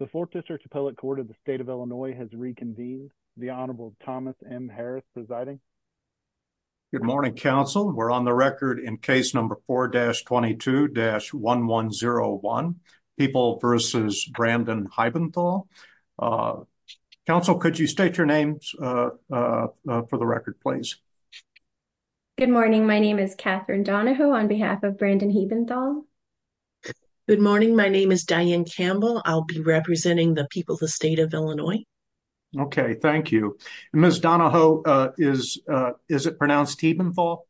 The Fourth District Appellate Court of the State of Illinois has reconvened. The Honorable Thomas M. Harris presiding. Good morning, counsel. We're on the record in case number 4-22-1101, People v. Brandon Heibenthal. Counsel, could you state your names for the record, please? Good morning. My name is Catherine Donahoe on behalf of Brandon Heibenthal. Good morning. My name is Diane Campbell. I'll be representing the People of the State of Illinois. Okay. Thank you. Ms. Donahoe, is it pronounced Heibenthal?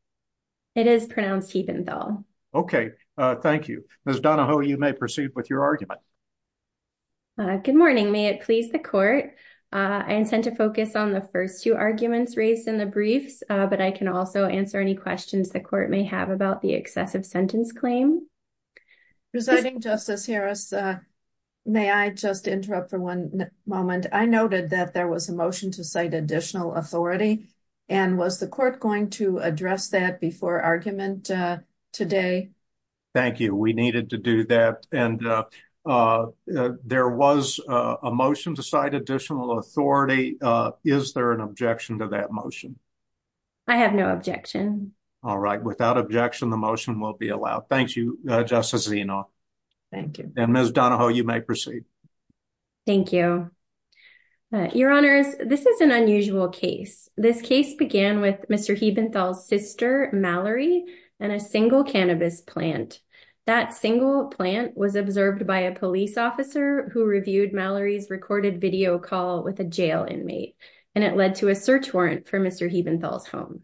It is pronounced Heibenthal. Okay. Thank you. Ms. Donahoe, you may proceed with your argument. Good morning. May it please the court, I intend to focus on the first two arguments raised in the briefs, but I can also answer any questions the court may have about the excessive sentence claim. Presiding Justice Harris, may I just interrupt for one moment? I noted that there was a motion to cite additional authority, and was the court going to address that before argument today? Thank you. We needed to do that, and there was a motion to cite additional authority. Is there an objection to that motion? I have no objection. All right. Without objection, the motion will be allowed. Thank you, Justice Zino. Thank you. And Ms. Donahoe, you may proceed. Thank you. Your Honors, this is an unusual case. This case began with Mr. Heibenthal's sister, Mallory, and a single cannabis plant. That single plant was observed by a police officer who reviewed Mallory's recorded video call with a jail inmate, and it led to a search warrant for Mr. Heibenthal's home.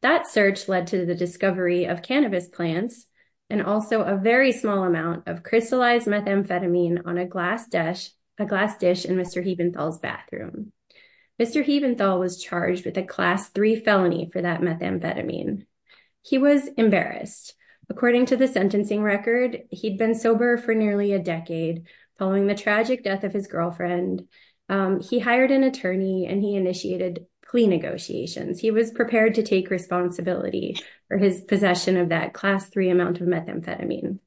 That search led to the discovery of cannabis plants, and also a very small amount of crystallized methamphetamine on a glass dish in Mr. Heibenthal's bathroom. Mr. Heibenthal was charged with a Class III felony for that methamphetamine. He was embarrassed. According to the sentencing record, he'd been sober for nearly a decade following the tragic death of his girlfriend. He hired an attorney, and he initiated plea negotiations. He was prepared to take responsibility for his possession of that Class III amount of methamphetamine.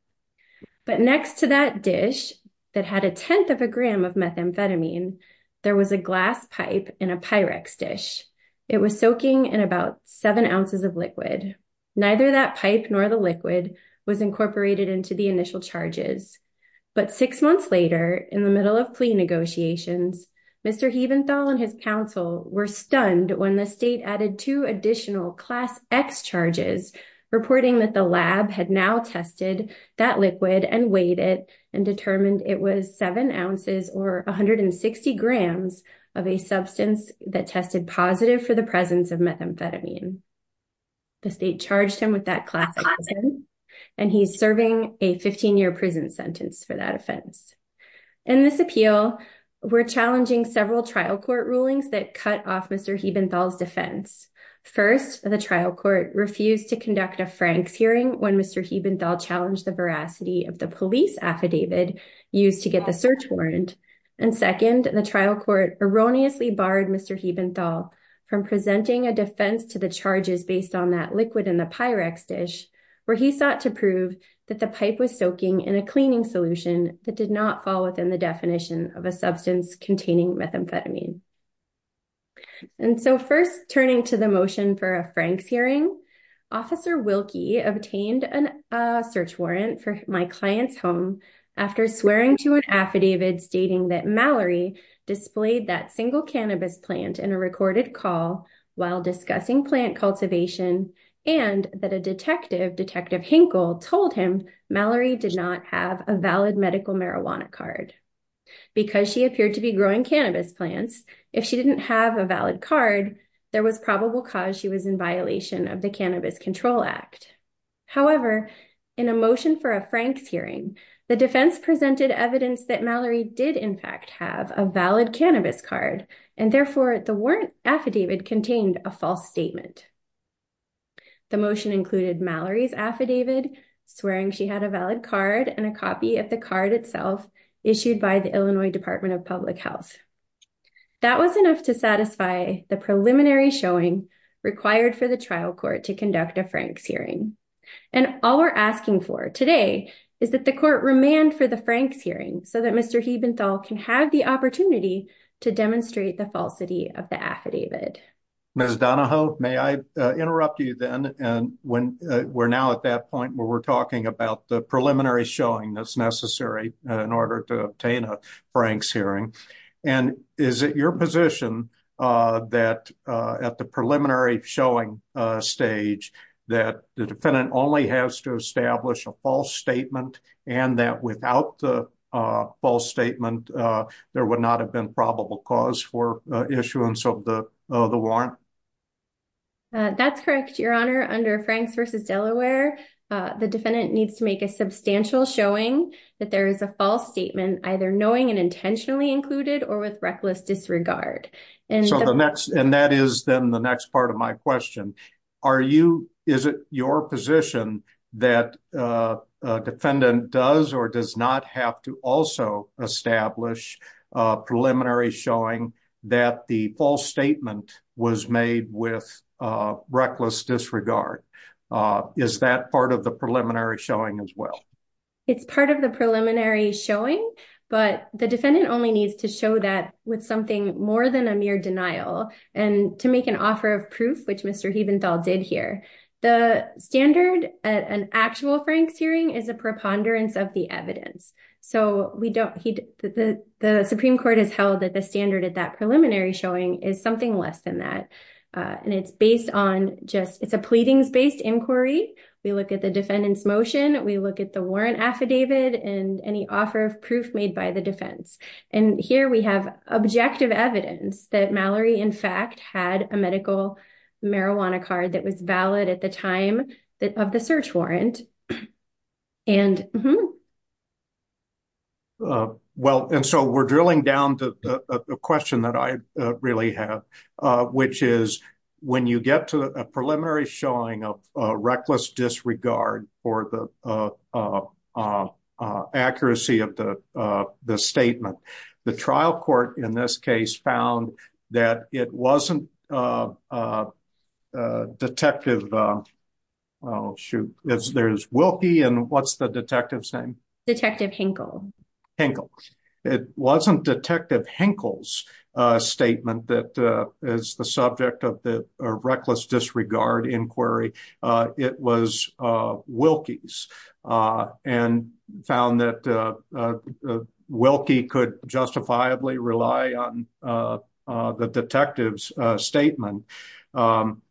But next to that dish that had a tenth of a gram of methamphetamine, there was a glass pipe in a Pyrex dish. It was soaking in about seven ounces of liquid. Neither that pipe nor the liquid was incorporated into the initial charges, but six months later, in the middle of plea negotiations, Mr. Heibenthal and his counsel were stunned when the state added two additional Class X charges, reporting that the lab had now tested that liquid and weighed it and determined it was seven ounces or 160 grams of a substance that tested positive for the presence of methamphetamine. The state charged him with Class X, and he's serving a 15-year prison sentence for that offense. In this appeal, we're challenging several trial court rulings that cut off Mr. Heibenthal's defense. First, the trial court refused to conduct a Franks hearing when Mr. Heibenthal challenged the veracity of the police affidavit used to get the search warrant. And second, the trial court erroneously barred Mr. Heibenthal from presenting a defense to the charges based on that liquid in the Pyrex dish, where he sought to prove that the pipe was soaking in a cleaning solution that did not fall within the definition of a substance containing methamphetamine. And so first, turning to the motion for a Franks hearing, Officer Wilke obtained a search warrant for my client's home after swearing to an affidavit stating that Mallory displayed that and that a detective, Detective Hinkle, told him Mallory did not have a valid medical marijuana card. Because she appeared to be growing cannabis plants, if she didn't have a valid card, there was probable cause she was in violation of the Cannabis Control Act. However, in a motion for a Franks hearing, the defense presented evidence that Mallory did in fact have a valid The motion included Mallory's affidavit, swearing she had a valid card and a copy of the card itself issued by the Illinois Department of Public Health. That was enough to satisfy the preliminary showing required for the trial court to conduct a Franks hearing. And all we're asking for today is that the court remand for the Franks hearing so that Mr. Heibenthal can have the opportunity to demonstrate the falsity of the affidavit. Ms. Donahoe, may I interrupt you then? And when we're now at that point where we're talking about the preliminary showing that's necessary in order to obtain a Franks hearing. And is it your position that at the preliminary showing stage that the defendant only has to establish a false statement and that without the false statement, there would not have been probable cause for issuance of the warrant? That's correct, Your Honor. Under Franks v. Delaware, the defendant needs to make a substantial showing that there is a false statement either knowing and intentionally included or with reckless disregard. And so the next and that is then the next part of my question. Are you, is it your position that a defendant does or does not have to also establish a preliminary showing that the false statement was made with reckless disregard? Is that part of the preliminary showing as well? It's part of the preliminary showing, but the defendant only needs to show that with something more than a mere denial and to make an offer of proof, which Mr. Heibenthal did here. The standard at an actual Franks hearing is a preponderance of the evidence. So we don't, he, the Supreme Court has held that the standard at that preliminary showing is something less than that. And it's based on just, it's a pleadings-based inquiry. We look at the defendant's motion. We look at the warrant affidavit and any offer of proof made by the defense. And here we have objective evidence that Mallory in fact had a medical marijuana card that was valid at the time of the search warrant. And. Well, and so we're drilling down to a question that I really have, which is when you get to a preliminary showing of a reckless disregard for the, uh, uh, uh, uh, uh, accuracy of the, uh, the statement, the trial court in this case found that it wasn't, uh, uh, uh, detective, uh, well, shoot, there's Wilkie and what's the detective's name? Detective Hinkle. Hinkle. It wasn't detective Hinkle's, uh, statement that, uh, is the subject of the, uh, reckless disregard inquiry. Uh, it was, uh, Wilkie's, uh, and found that, uh, uh, Wilkie could justifiably rely on, uh, uh, the detective's statement. Um,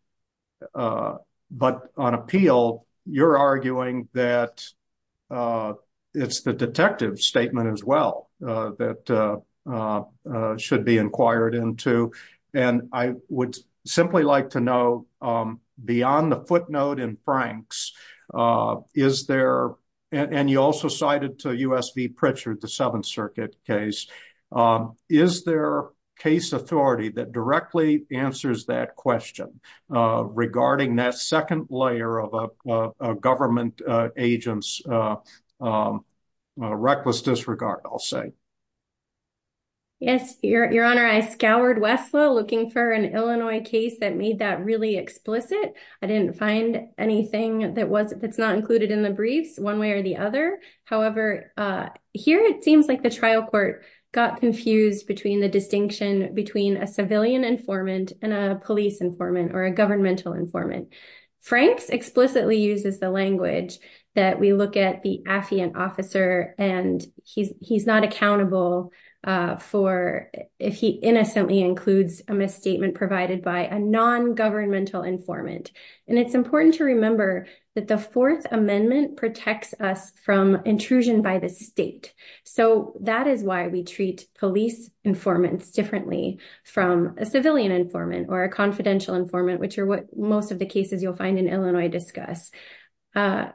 uh, but on appeal, you're arguing that, uh, it's the detective's statement as well, uh, that, uh, uh, uh, could be inquired into. And I would simply like to know, um, beyond the footnote in Frank's, uh, is there, and you also cited to USV Pritchard, the seventh circuit case, um, is there case authority that directly answers that question, uh, regarding that second layer of a, uh, uh, government, uh, agents, uh, um, uh, reckless disregard, I'll say. Yes, your, your honor, I scoured Westlaw looking for an Illinois case that made that really explicit. I didn't find anything that wasn't, that's not included in the briefs one way or the other. However, uh, here, it seems like the trial court got confused between the distinction between a civilian informant and a police informant or a governmental informant. Frank's explicitly uses the language that we look at the affiant officer and he's, he's not accountable, uh, for if he innocently includes a misstatement provided by a non-governmental informant. And it's important to remember that the fourth amendment protects us from intrusion by the state. So that is why we treat police informants differently from a civilian informant or a confidential informant, which are what most of the cases you'll find in Illinois discuss. Uh,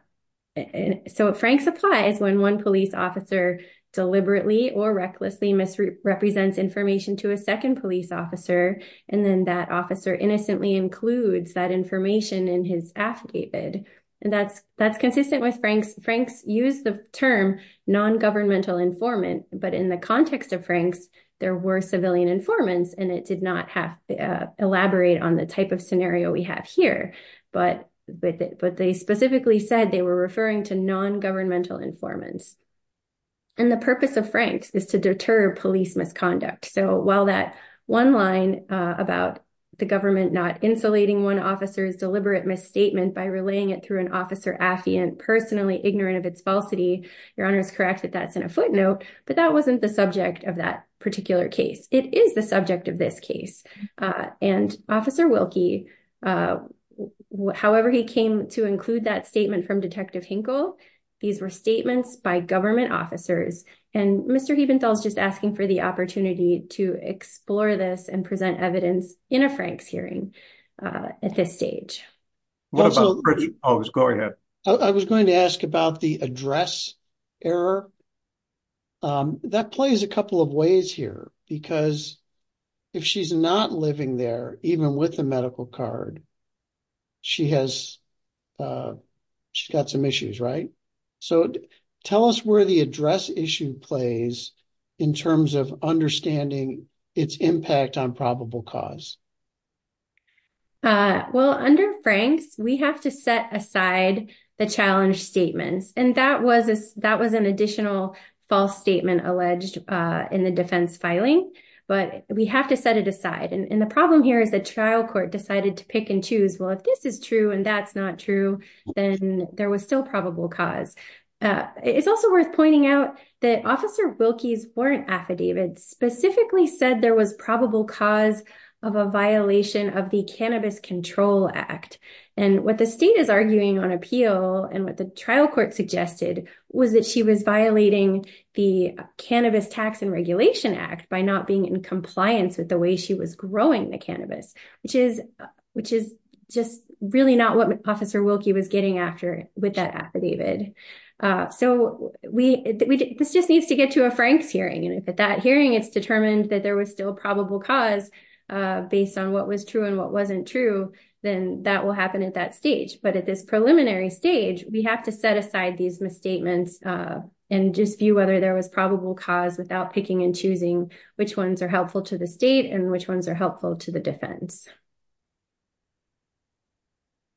so Frank's applies when one police officer deliberately or recklessly misrepresents information to a second police officer. And then that officer innocently includes that information in his affidavit. And that's, that's consistent with Frank's. Frank's used the term non-governmental informant, but in the context of Frank's, there were civilian informants and it did not have, uh, elaborate on the type of scenario we have here, but, but, but they specifically said they were referring to non-governmental informants. And the purpose of Frank's is to deter police misconduct. So while that one line, uh, about the government not insulating one officer's deliberate misstatement by relaying it through an officer affiant personally ignorant of its falsity, your honor is correct that that's in a footnote, but that wasn't the subject of that particular case. It is the subject of this case. Uh, and officer Wilkie, uh, however, he came to include that statement from detective Hinkle. These were statements by government officers and Mr. Hiebenthal is just asking for the opportunity to explore this and present evidence in a Frank's hearing, uh, at this stage. I was going to ask about the address error. Um, that plays a couple of ways here because if she's not living there, even with the medical card, she has, uh, she's got some issues, right? So tell us where the address issue plays in terms of understanding its impact on probable cause. Uh, well, under Frank's, we have to set aside the challenge statements. And that was an additional false statement alleged, uh, in the defense filing, but we have to set it aside. And the problem here is the trial court decided to pick and choose, well, if this is true and that's not true, then there was still probable cause. Uh, it's also worth pointing out that officer Wilkie's warrant affidavits specifically said there was probable cause of a violation of the Cannabis Control Act. And what the state is arguing on appeal and what the trial court suggested was that she was violating the Cannabis Tax and Regulation Act by not being in compliance with the way she was growing the cannabis, which is, which is just really not what officer Wilkie was getting after with that affidavit. Uh, so we, we, this just needs to get to a Frank's hearing. And if at that hearing it's determined that there was still probable cause, uh, based on what was true and what wasn't true, then that will happen at that stage. But at this preliminary stage, we have to set aside these misstatements, uh, and just view whether there was probable cause without picking and choosing which ones are helpful to the state and which ones are helpful to the defense.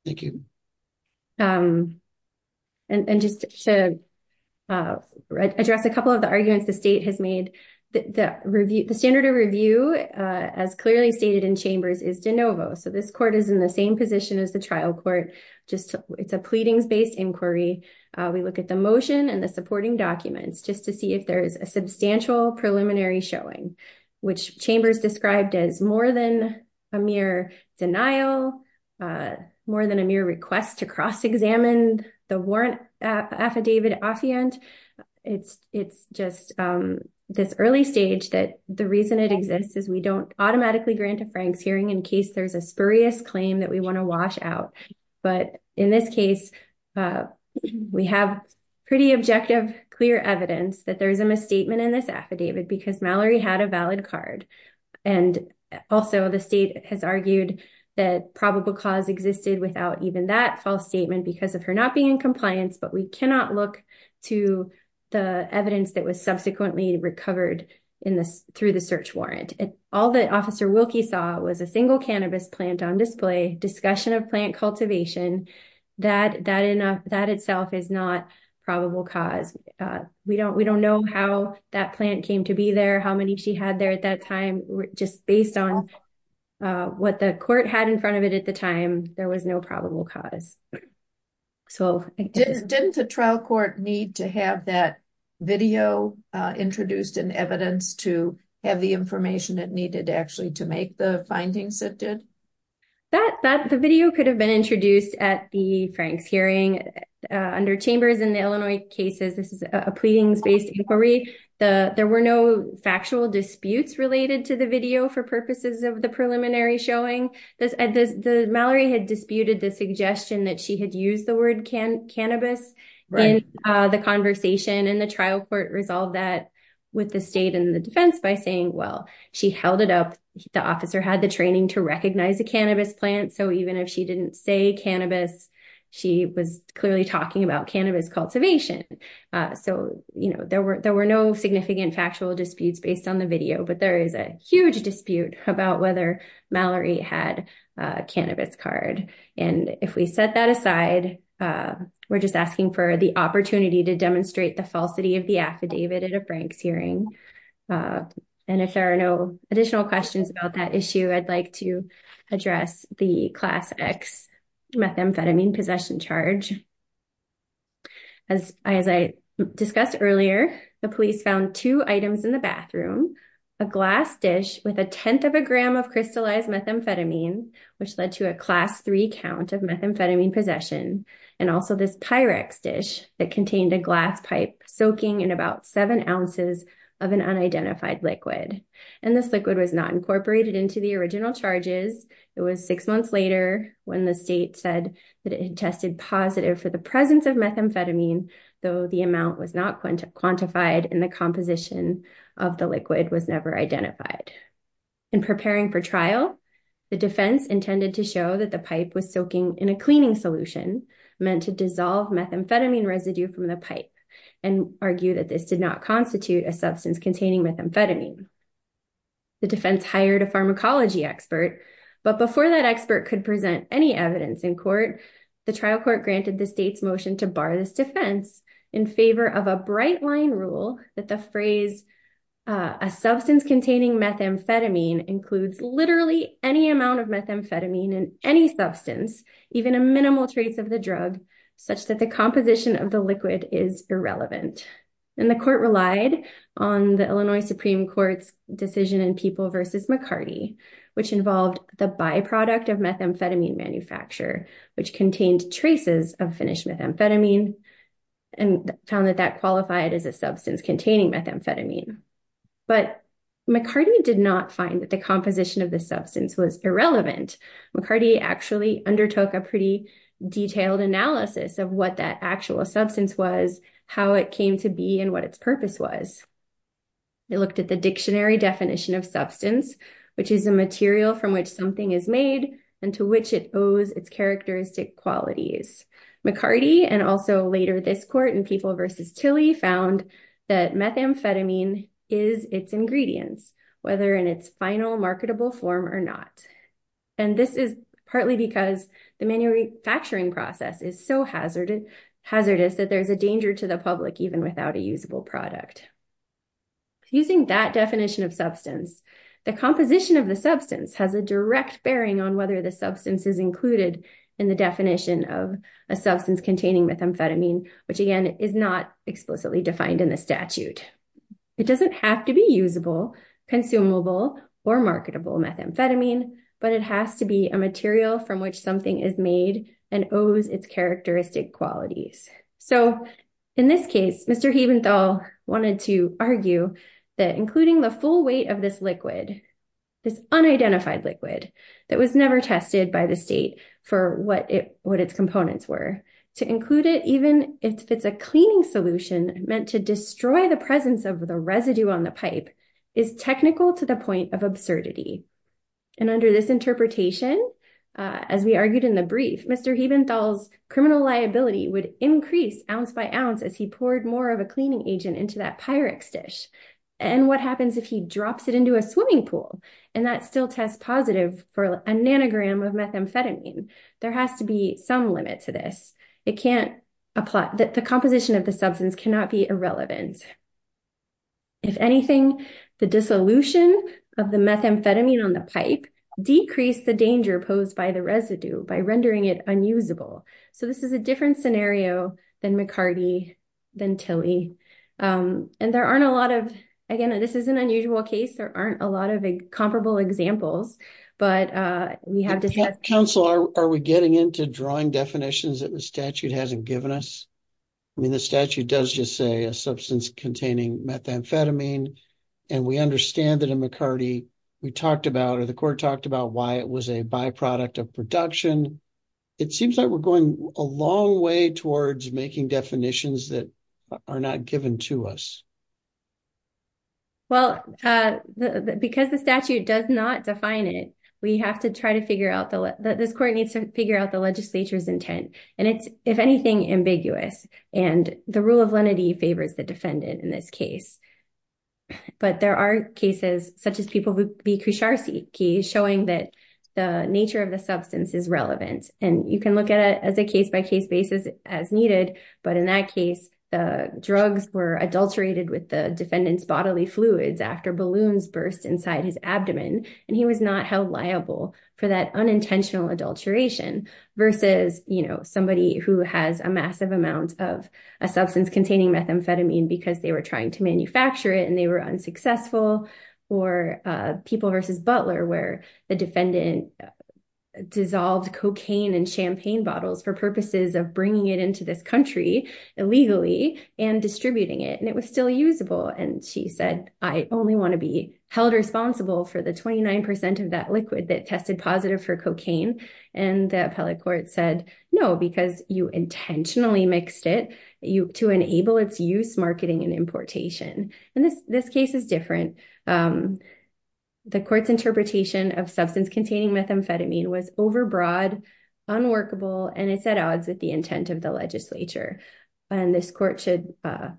Thank you. Um, and just to, uh, address a couple of the arguments the state has made. The review, the standard of review, uh, as clearly stated in chambers is de novo. So this court is in the same position as the trial court, just it's a pleadings-based inquiry. Uh, we look at the motion and the supporting documents just to see if there is a substantial preliminary showing, which chambers described as more than a mere denial, uh, more than a mere request to cross-examine the warrant affidavit affiant. It's, it's just, um, this early stage that the reason it exists is we don't automatically grant a Frank's hearing in case there's a spurious claim that we want to wash out. But in this case, uh, we have pretty objective, clear evidence that there is a misstatement in this affidavit because Mallory had a valid card. And also the state has argued that probable cause existed without even that false statement because of her not being in compliance, but we cannot look to the evidence that was subsequently recovered in this through the search warrant. And all the officer Wilkie saw was a single cannabis plant on display discussion of plant cultivation. That, that enough, that itself is not probable cause. Uh, we don't, we don't know how that plant came to be there, how many she had there at that time, just based on, uh, what the court had in front of it at the time, there was no probable cause. So didn't the trial court need to have that video, uh, introduced in evidence to have the information that needed to actually to make the findings that did that, that the video could have been introduced at the Frank's hearing, uh, under chambers in the Illinois cases. This is a factual disputes related to the video for purposes of the preliminary showing this at this, the Mallory had disputed the suggestion that she had used the word can cannabis, uh, the conversation and the trial court resolved that with the state and the defense by saying, well, she held it up. The officer had the training to recognize the cannabis plant. So even if she didn't say cannabis, she was clearly talking about cannabis cultivation. So, you know, there were, there were no significant factual disputes based on the video, but there is a huge dispute about whether Mallory had a cannabis card. And if we set that aside, uh, we're just asking for the opportunity to demonstrate the falsity of the affidavit at a Frank's hearing. Uh, and if there are no additional questions about that issue, I'd like to discuss earlier, the police found two items in the bathroom, a glass dish with a 10th of a gram of crystallized methamphetamine, which led to a class three count of methamphetamine possession. And also this Pyrex dish that contained a glass pipe soaking in about seven ounces of an unidentified liquid. And this liquid was not incorporated into the original charges. It was six months later when the state said that it had tested positive for the presence of methamphetamine, though the amount was not quantified in the composition of the liquid was never identified. In preparing for trial, the defense intended to show that the pipe was soaking in a cleaning solution meant to dissolve methamphetamine residue from the pipe and argue that this did not constitute a substance containing methamphetamine. The defense hired a pharmacology expert, but before that expert could present any evidence in court, the trial court granted the state's motion to bar this defense in favor of a bright line rule that the phrase, a substance containing methamphetamine includes literally any amount of methamphetamine in any substance, even a minimal trace of the drug, such that the composition of the liquid is irrelevant. And the court relied on the Illinois Supreme Court's decision in People versus McCarty, which involved the byproduct of methamphetamine manufacture, which contained traces of finished methamphetamine and found that that qualified as a substance containing methamphetamine. But McCarty did not find that the composition of the substance was irrelevant. McCarty actually undertook a pretty detailed analysis of what that actual substance was, how it came to be, what its purpose was. They looked at the dictionary definition of substance, which is a material from which something is made and to which it owes its characteristic qualities. McCarty and also later this court in People versus Tilly found that methamphetamine is its ingredients, whether in its final marketable form or not. And this is partly because the manufacturing process is so hazardous that there's a danger to the public even without a usable product. Using that definition of substance, the composition of the substance has a direct bearing on whether the substance is included in the definition of a substance containing methamphetamine, which again is not explicitly defined in the statute. It doesn't have to be usable, consumable, or marketable methamphetamine, but it has to be a material from which something is made and owes its characteristic qualities. So in this case, Mr. Haventhal wanted to argue that including the full weight of this liquid, this unidentified liquid that was never tested by the state for what its components were, to include it even if it's a cleaning solution meant to destroy the presence of the residue on the pipe is technical to the point of absurdity. And under this interpretation, as we argued in the brief, Mr. Haventhal's criminal liability would increase ounce by ounce as he poured more of a cleaning agent into that Pyrex dish. And what happens if he drops it into a swimming pool and that still tests positive for a nanogram of methamphetamine? There has to be some limit to this. The composition of the substance cannot be irrelevant. If anything, the dissolution of the methamphetamine on the pipe decreased the danger posed by the residue by rendering it unusable. So this is a different scenario than McCarty, than Tilly. And there aren't a lot of, again, this is an unusual case, there aren't a lot of comparable examples, but we have to- Counsel, are we getting into drawing definitions that the statute hasn't given us? I mean, the statute does just say a substance containing methamphetamine, and we understand that in McCarty, we talked about or the court talked about why it was a byproduct of production. It seems like we're going a long way towards making definitions that are not given to us. Well, because the statute does not define it, we have to try to figure out that this court needs to figure out the legislature's intent. And it's, if anything, ambiguous and the rule of lenity favors the defendant in this case. But there are cases such as people who would be Kosharsky showing that the nature of the substance is relevant. And you can look at it as a case by case basis as needed. But in that case, the drugs were adulterated with the defendant's bodily fluids after balloons burst inside his abdomen. And he was not held liable for that unintentional adulteration versus somebody who has a massive amount of a substance containing methamphetamine because they were trying to manufacture it and they were unsuccessful or people versus Butler where the defendant dissolved cocaine and champagne bottles for purposes of bringing it into this country illegally and distributing it. And it still usable. And she said, I only want to be held responsible for the 29% of that liquid that tested positive for cocaine. And the appellate court said, no, because you intentionally mixed it to enable its use, marketing and importation. And this case is different. The court's interpretation of substance containing methamphetamine was overbroad, unworkable, and it's at odds with the intent of the legislature. And this court should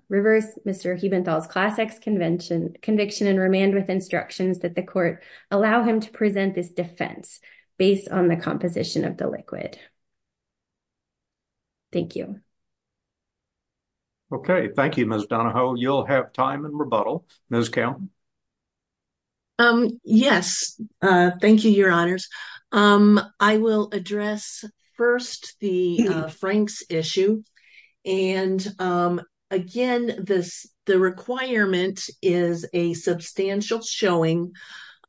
reverse Mr. Hubenthal's Class X conviction and remand with instructions that the court allow him to present this defense based on the composition of the liquid. Thank you. Okay. Thank you, Ms. Donahoe. You'll have time and rebuttal. Ms. Kelton. Yes. Thank you, Your Honors. I will address first the Franks issue. And again, the requirement is a substantial showing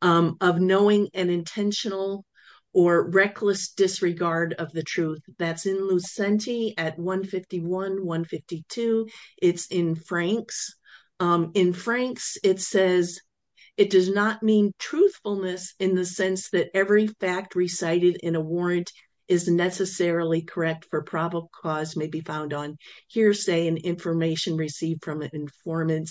of knowing an intentional or reckless disregard of the truth. That's in it does not mean truthfulness in the sense that every fact recited in a warrant is necessarily correct for probable cause may be found on hearsay and information received from an informant.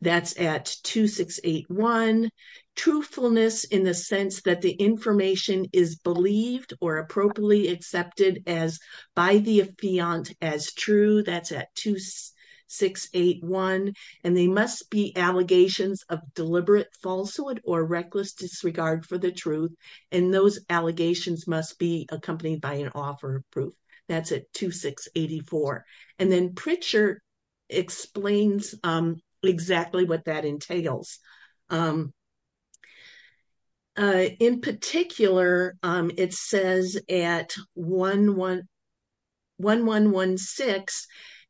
That's at 2681. Truthfulness in the sense that the information is believed or appropriately accepted as by the affiant as true. That's at 2681. And they must be allegations of deliberate falsehood or reckless disregard for the truth. And those allegations must be accompanied by an offer of proof. That's at 2684. And then Pritchard explains exactly what that entails. In particular, it says at 1116,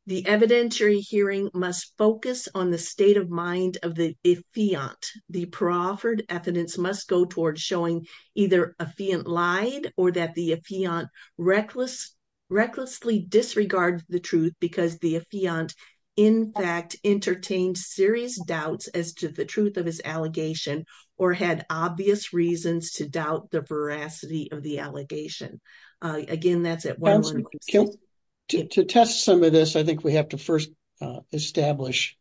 the evidentiary hearing must focus on the state of mind of the affiant. The proffered evidence must go towards showing either affiant lied or that the affiant recklessly disregarded the truth because the affiant, in fact, entertained serious doubts as to the truth of his allegation or had obvious reasons to doubt the veracity of the allegation. Again, that's at 1116. To test some of this, I think we have to first establish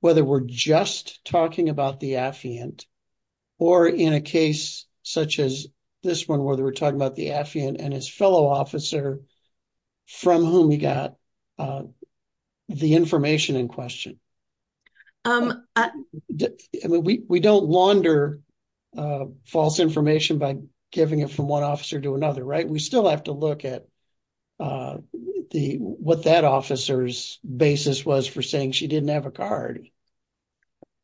whether we're just talking about the affiant or in a case such as this one, whether we're talking about the we don't launder false information by giving it from one officer to another, right? We still have to look at what that officer's basis was for saying she didn't have a card.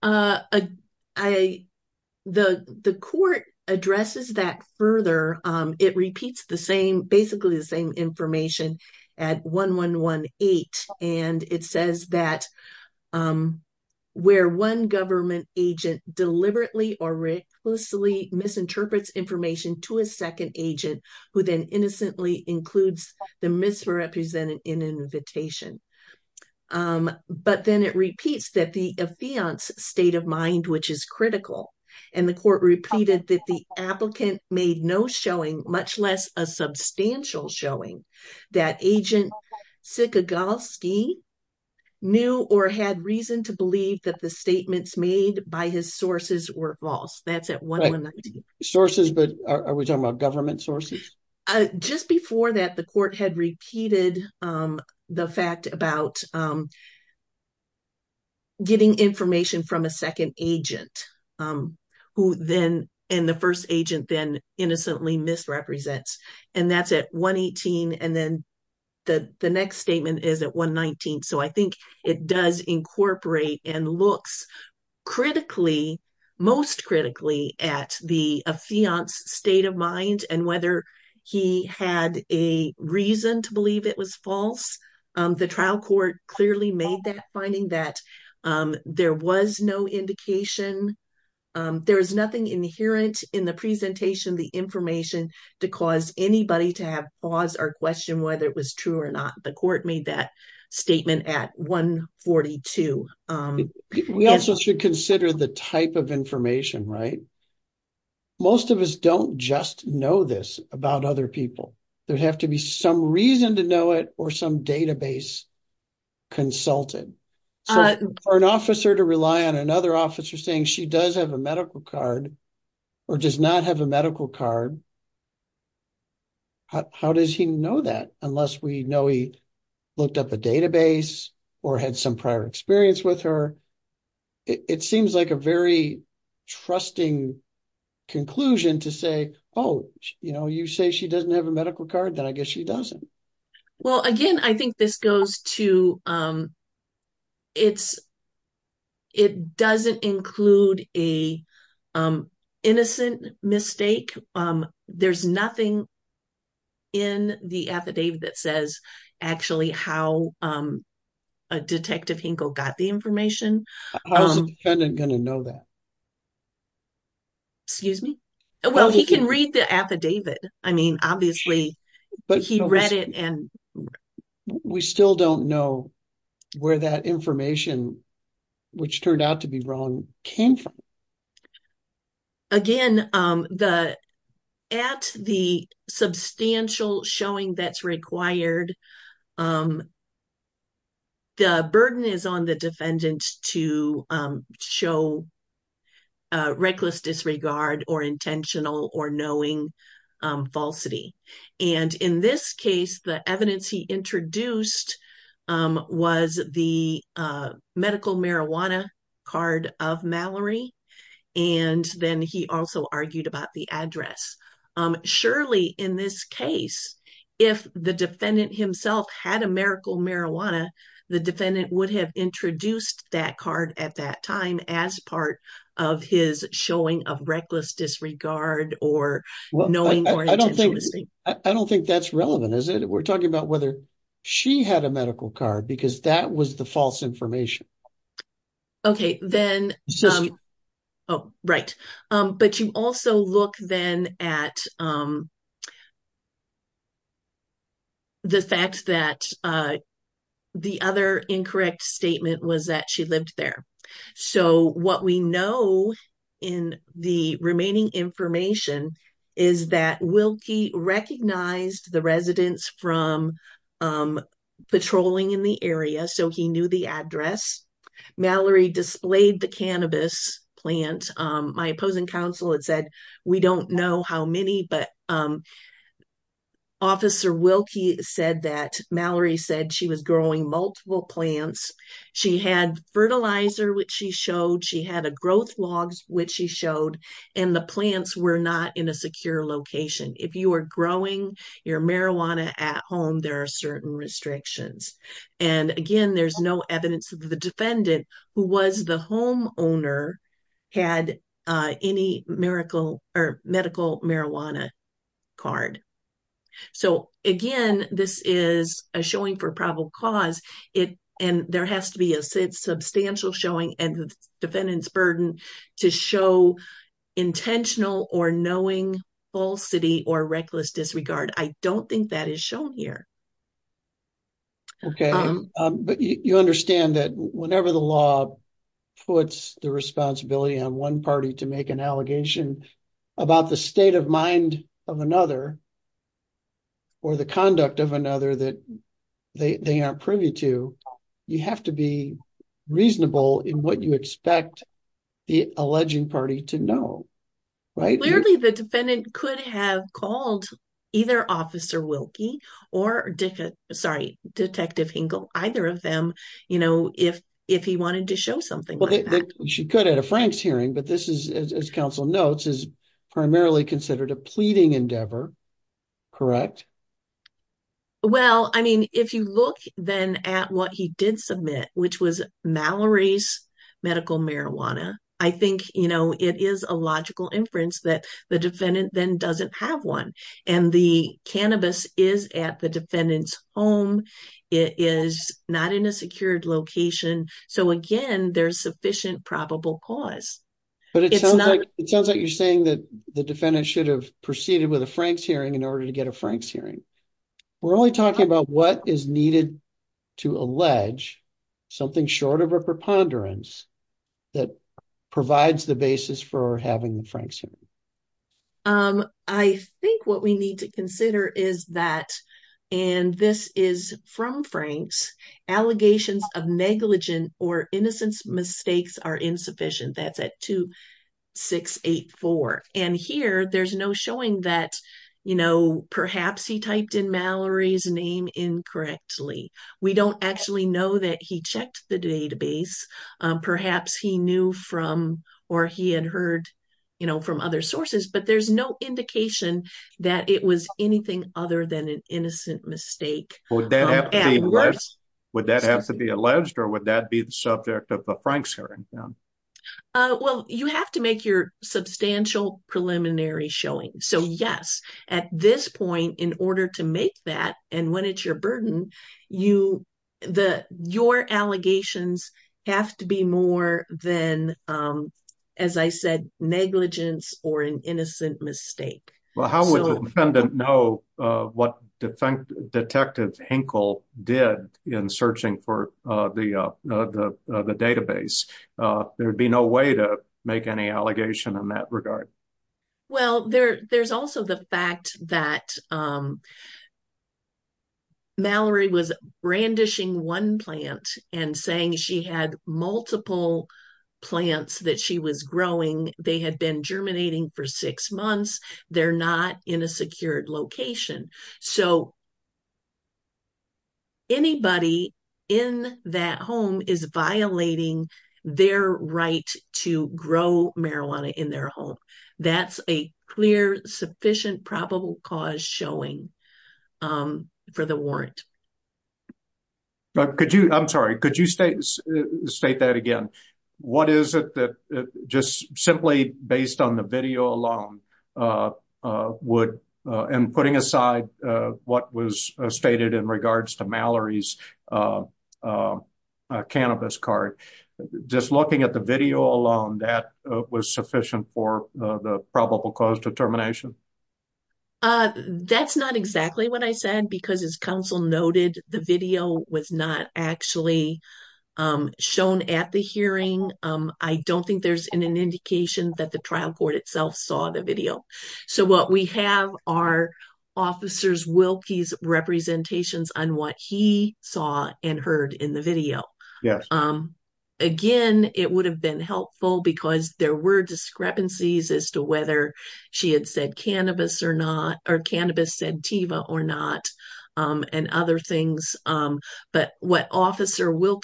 The court addresses that further. It repeats the same, basically the same information at 1118. And it says that where one government agent deliberately or reclusively misinterprets information to a second agent who then innocently includes the misrepresented in an invitation. But then it repeats that the affiant's state of mind, which is critical, and the court repeated that the applicant made no showing, much less a substantial showing, that agent Sikogalski knew or had reason to believe that the statements made by his sources were false. That's at 1119. Sources, but are we talking about government sources? Just before that, the court had repeated the fact about getting information from a second agent and the first agent then innocently misrepresents. And that's at 118. And then the next statement is at 119. So I think it does incorporate and looks critically, most critically, at the affiant's state of mind and whether he had a reason to make that finding that there was no indication. There is nothing inherent in the presentation, the information, to cause anybody to have pause or question whether it was true or not. The court made that statement at 142. We also should consider the type of information, right? Most of us don't just know this about other people. There'd have to be some reason to know or some database consulted. For an officer to rely on another officer saying she does have a medical card or does not have a medical card, how does he know that unless we know he looked up a database or had some prior experience with her? It seems like a very trusting conclusion to say, oh, you say she doesn't have a medical card, then I guess she doesn't. Well, again, I think this goes to, it doesn't include an innocent mistake. There's nothing in the affidavit that says actually how Detective Hinkle got the information. How is the defendant going to know that? Excuse me? Well, he can read the affidavit. I mean, obviously, he read it and- We still don't know where that information, which turned out to be wrong, came from. Again, at the substantial showing that's required, the burden is on the defendant to show reckless disregard or intentional or knowing falsity. And in this case, the evidence he introduced was the medical marijuana card of Mallory, and then he also argued about the address. Surely, in this case, if the defendant himself had a medical marijuana, the defendant would have introduced that card at that time as part of his showing of reckless disregard or knowing or intentional mistake. I don't think that's relevant, is it? We're talking about whether she had a medical card because that was the false information. Okay. Then- Oh, right. But you also look then at the fact that the other incorrect statement was that she lived there. So, what we know in the remaining information is that Wilkie recognized the residents from patrolling in the area, so he knew the address. Mallory displayed the cannabis plant. My opposing counsel had said, we don't know how many, but Officer Wilkie said that Mallory said she was growing multiple plants. She had fertilizer, which she showed. She had a growth log, which she showed, and the plants were not in a secure location. If you are growing your marijuana at home, there are certain restrictions. Again, there's no evidence that the defendant, who was the homeowner, had any medical marijuana card. So, again, this is a showing for probable cause, and there has to be a substantial showing and the defendant's burden to show intentional or knowing falsity or reckless disregard. I don't think that is shown here. Okay. But you understand that whenever the law puts the responsibility on one party to make an allegation about the state of mind of another or the conduct of another that they aren't privy to, you have to be reasonable in what you expect the alleging party to know, right? Clearly, the defendant could have called either Officer Wilkie or Detective Hinkle, either of them, if he wanted to show something like that. She could at a Frank's hearing, but this is, as counsel notes, is primarily considered a pleading endeavor, correct? Well, I mean, if you look then at what he did submit, which was Mallory's medical marijuana, I think it is a logical inference that the defendant then doesn't have one. And the cannabis is at the defendant's home. It is not in a secured location. So, again, there's sufficient probable cause. But it sounds like you're saying that the defendant should have proceeded with a Frank's hearing in order to get a Frank's hearing. We're only talking about what is needed to allege, something short of a preponderance, that provides the basis for having the Frank's hearing. I think what we need to consider is that, and this is from Frank's, allegations of negligent or innocence mistakes are insufficient. That's at 2684. And here, there's no showing that, you know, perhaps he typed in Mallory's name incorrectly. We don't actually know that he checked the database. Perhaps he knew from, or he had heard, you know, from other sources, but there's no indication that it was anything other than an innocent mistake. Would that have to be alleged or would that be the subject of a Frank's hearing? Well, you have to make your substantial preliminary showing. So, yes, at this point, in order to make that, and when it's your burden, your allegations have to be more than, as I said, negligence or an innocent mistake. Well, how would the defendant know what Detective Hinkle did in searching for the database? There'd be no way to make any allegation in that regard. Well, there's also the fact that Mallory was brandishing one plant and saying she had multiple plants that she was growing. They had been germinating for six months. They're not in a secured location. So, anybody in that home is violating their right to grow marijuana in their home. That's a clear, sufficient, probable cause showing for the warrant. I'm sorry. Could you state that again? What is it that just simply based on the video alone would, and putting aside what was stated in regards to Mallory's cannabis cart, just looking at the video alone, that was sufficient for the probable cause determination? That's not exactly what I said because, as counsel noted, the video was not actually shown at the hearing. I don't think there's an indication that the trial court itself saw the video. What we have are Officer Wilkie's representations on what he saw and heard in the video. Again, it would have been helpful because there were discrepancies as to whether she had said cannabis or not, or cannabis said Teva or not, and other things. But what Officer that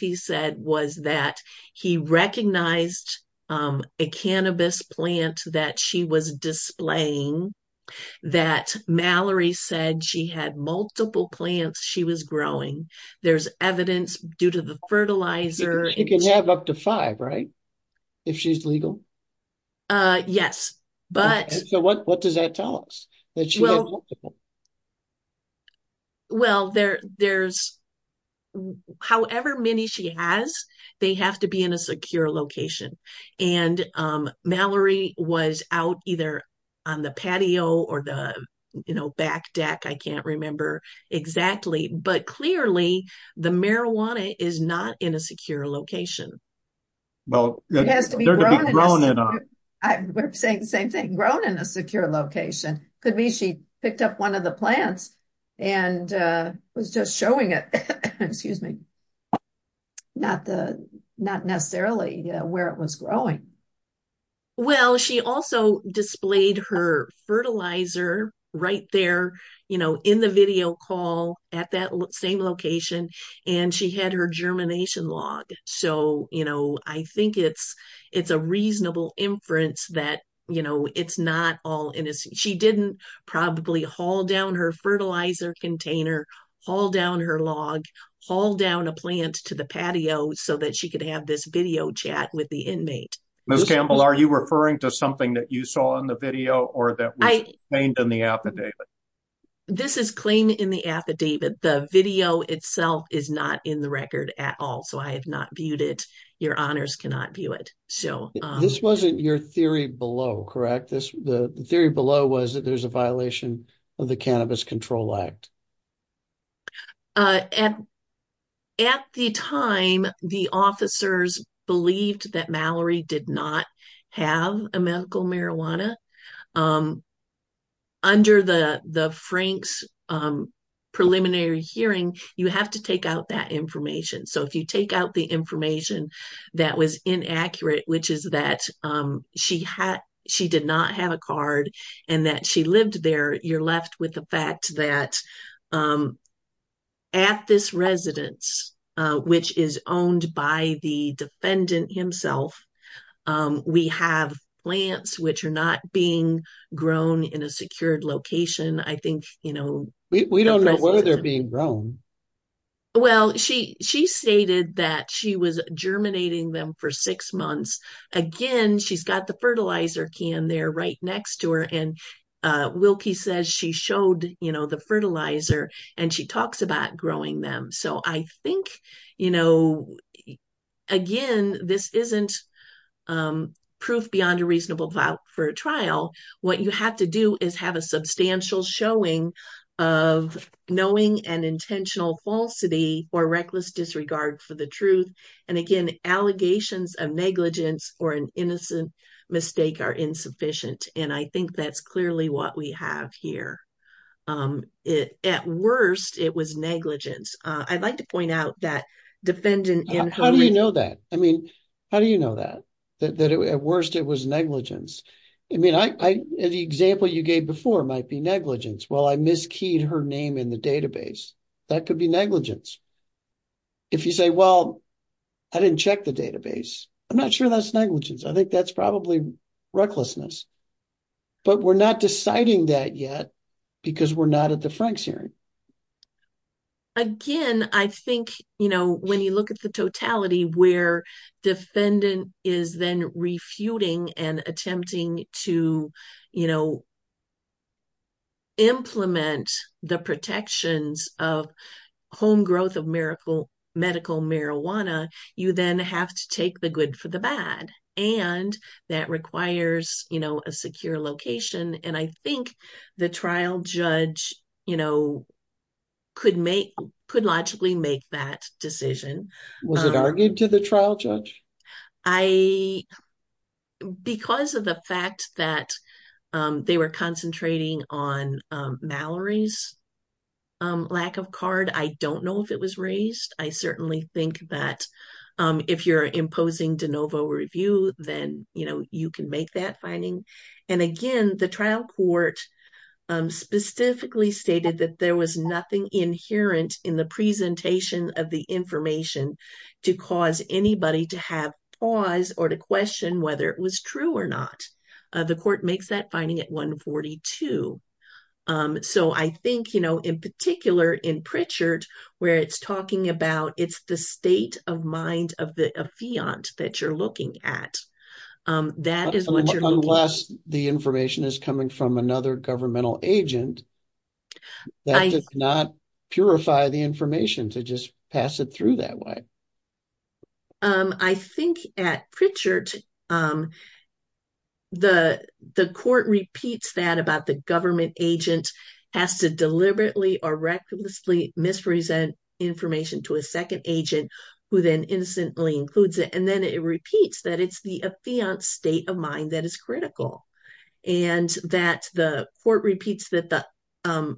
she was displaying, that Mallory said she had multiple plants she was growing, there's evidence due to the fertilizer. She can have up to five, right, if she's legal? Yes. So, what does that tell us, that she had multiple? Well, there's, however many she has, they have to be in a secure location. And Mallory was out either on the patio or the, you know, back deck, I can't remember exactly. But clearly, the marijuana is not in a secure location. Well, it has to be grown in a secure location. Could be she picked up one of the plants and was just showing it. Excuse me. Not necessarily where it was growing. Well, she also displayed her fertilizer right there, you know, in the video call at that same location. And she had her germination log. So, you know, I think it's, it's a reasonable inference that, you know, it's not all in. She didn't probably haul down her fertilizer container, haul down her log, haul down a plant to the patio so that she could have this video chat with the inmate. Ms. Campbell, are you referring to something that you saw in the video or that was claimed in the affidavit? This is claimed in the affidavit. The video itself is not in the record at all. So I have not viewed it. Your honors cannot view it. So. This wasn't your theory below, correct? The theory below was that there's a violation of the Cannabis Control Act. At the time, the officers believed that Mallory did not have a medical marijuana. Under the Frank's preliminary hearing, you have to take out that information. So if you take out the information that was inaccurate, which is that she did not have a card and that she lived there, you're left with the fact that at this residence, which is owned by the defendant himself, we have plants which are not being grown in a secured location. I think, you know, we don't know whether they're being grown. Well, she she stated that she was germinating them for six months. Again, she's got the fertilizer can there right next to her. And Wilkie says she showed the fertilizer and she talks about growing them. So I think, you know, again, this isn't proof beyond a reasonable doubt for a trial. What you have to do is have a substantial showing of knowing and intentional falsity or reckless disregard for the truth. And again, allegations of negligence or an innocent mistake are insufficient. And I think that's clearly what we have here. At worst, it was negligence. I'd like to point out that defendant. How do you know that? I mean, how do you know that? That at worst it was negligence? I mean, the example you gave before might be negligence. Well, I miskeyed her name in the database. That could be negligence. If you say, well, I didn't check the database. I'm not sure that's negligence. I think that's probably recklessness. But we're not deciding that yet because we're not at the Franks hearing. Again, I think, you know, when you look at the totality where defendant is then refuting and attempting to, you know, implement the protections of home growth of medical marijuana, you then have to take the good for the bad. And that requires, you know, a secure location. And I think the trial judge, you know, could make, could logically make that decision. Was it argued to the trial judge? I, because of the fact that they were concentrating on Mallory's lack of card, I don't know if it was raised. I certainly think that if you're imposing de novo review, then, you know, you can make that finding. And again, the trial court specifically stated that there was nothing inherent in the presentation of the information to cause anybody to have pause or to question whether it was true or not. The court makes that finding at 142. So I think, you know, in particular, in Pritchard, where it's talking about, it's the state of mind of the affiant that you're looking at. That is what you're looking at. Unless the information is coming from another governmental agent that does not purify the information to just pass it through that way. I think at Pritchard, the court repeats that about the government agent has to deliberately or recklessly mispresent information to a second agent who then innocently includes it. And then it repeats that it's the affiant state of mind that is critical. And that the court repeats that the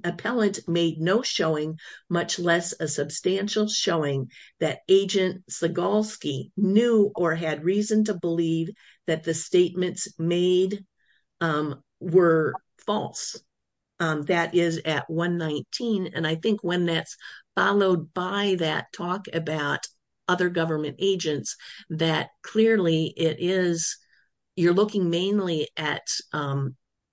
appellant made no showing, much less a substantial showing that agent Segalski knew or had reason to believe that the statements made were false. That is at 119. And I think when that's followed by that talk about other government agents, that clearly it is, you're looking mainly at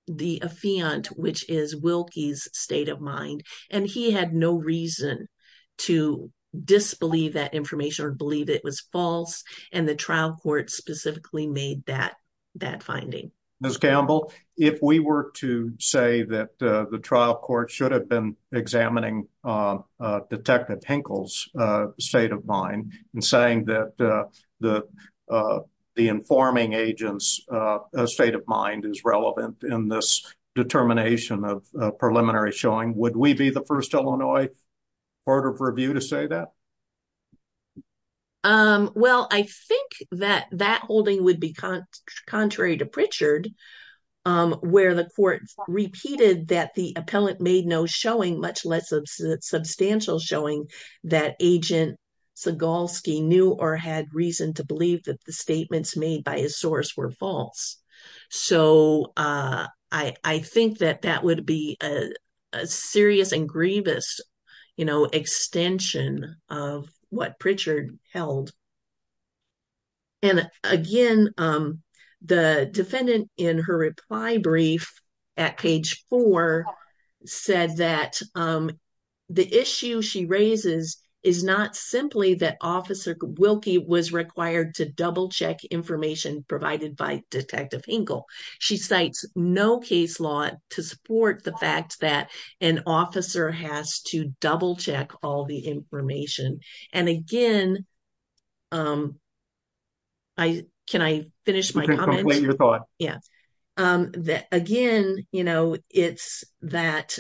the affiant, which is Wilkie's state of mind. And he had no reason to disbelieve that information or believe it was false. And the trial court specifically made that finding. Ms. Gamble, if we were to say that the trial court should have been examining Detective Hinkle's state of mind and saying that the informing agent's state of mind is relevant in this first Illinois court of review to say that? Well, I think that that holding would be contrary to Pritchard, where the court repeated that the appellant made no showing, much less a substantial showing that agent Segalski knew or had reason to believe that the statements made by his source were false. So I think that that would be a serious and grievous extension of what Pritchard held. And again, the defendant in her reply brief at page four said that the issue she raises is not simply that Officer Wilkie was required to double check information provided by Detective Hinkle. She cites no case law to support the fact that an officer has to double check all the information. And again, can I finish my comment? Again, it's that,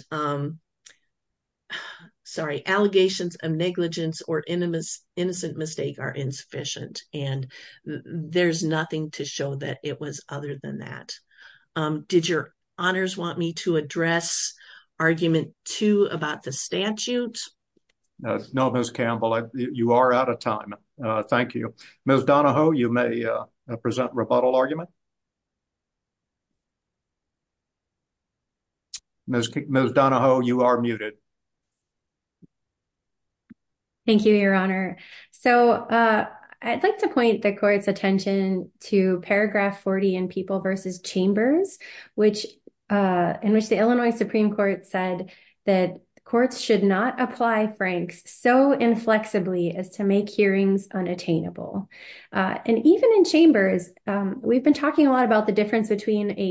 sorry, allegations of negligence or innocent mistake are insufficient and there's nothing to show that it was other than that. Did your honors want me to address argument two about the statute? No, Ms. Gamble, you are out of time. Thank you. Ms. Donahoe, you may present rebuttal argument. Ms. Donahoe, you are muted. Thank you, your honor. So I'd like to point the court's attention to paragraph 40 in People vs. Chambers, in which the Illinois Supreme Court said that courts should not apply between a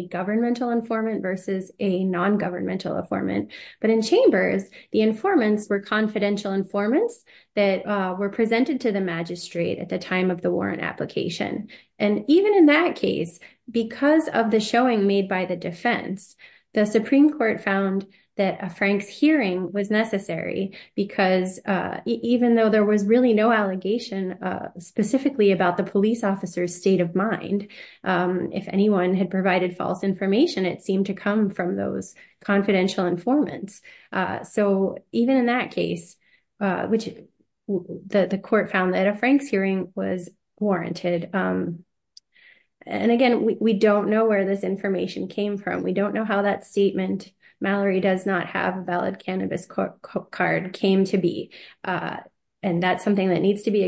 governmental informant versus a non-governmental informant. But in Chambers, the informants were confidential informants that were presented to the magistrate at the time of the warrant application. And even in that case, because of the showing made by the defense, the Supreme Court found that a Frank's hearing was necessary because even though there was really no if anyone had provided false information, it seemed to come from those confidential informants. So even in that case, which the court found that a Frank's hearing was warranted. And again, we don't know where this information came from. We don't know how that statement, Mallory does not have a valid cannabis card, came to be. And that's something that needs to be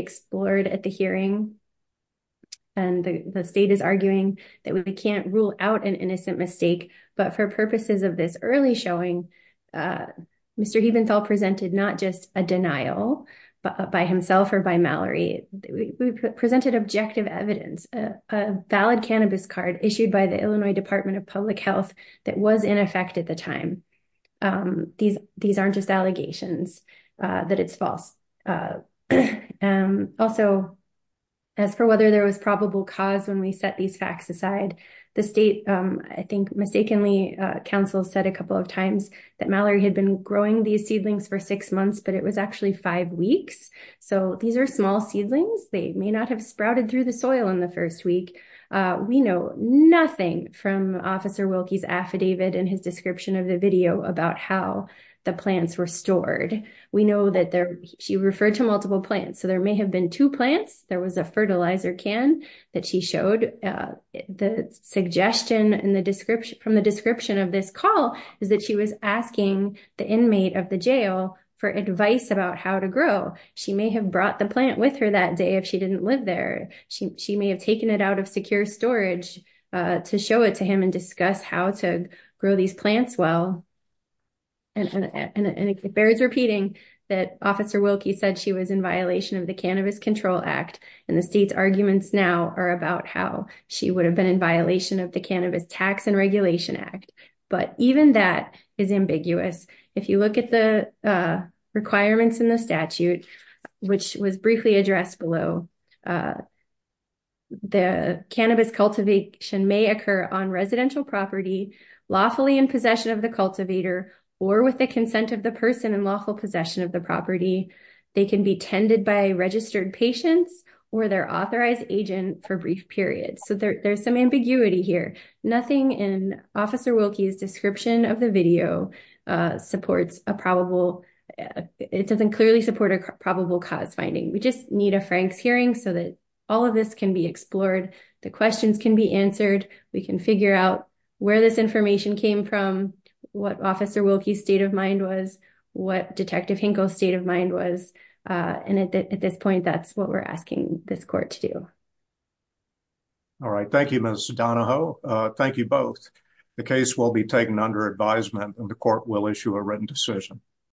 that we can't rule out an innocent mistake. But for purposes of this early showing, Mr. Heventhal presented not just a denial by himself or by Mallory, we presented objective evidence, a valid cannabis card issued by the Illinois Department of Public Health that was in effect at the time. These aren't just allegations that it's false. And also, as for whether there was probable cause when we set these facts aside, the state, I think mistakenly, counsel said a couple of times that Mallory had been growing these seedlings for six months, but it was actually five weeks. So these are small seedlings, they may not have sprouted through the soil in the first week. We know nothing from Officer Wilkie's affidavit and his description of the video about how the plants were stored. We know that she referred to multiple plants. So there may have been two plants, there was a fertilizer can that she showed. The suggestion from the description of this call is that she was asking the inmate of the jail for advice about how to grow. She may have brought the plant with her that day if she didn't live there. She may have taken it out of secure storage to show it to him and discuss how to grow these plants well. And it bears repeating that Officer Wilkie said she was in violation of the Cannabis Control Act. And the state's arguments now are about how she would have been in violation of the Cannabis Tax and Regulation Act. But even that is ambiguous. If you look at the requirements in the statute, which was briefly addressed below, the cannabis cultivation may occur on residential property, lawfully in possession of the cultivator, or with the consent of the person in lawful possession of the property. They can be tended by registered patients or their authorized agent for brief periods. So there's some ambiguity here. Nothing in Officer Wilkie's description of the video supports a probable, it doesn't clearly support a probable cause finding. We just need a Frank's hearing so that all of this can be explored. The questions can be answered. We can figure out where this information came from, what Officer Wilkie's state of mind was, what Detective Hinkle's state of mind was. And at this point, that's what we're asking this court to do. All right. Thank you, Ms. Donahoe. Thank you both. The case will be taken under advisement and the court will issue a written decision.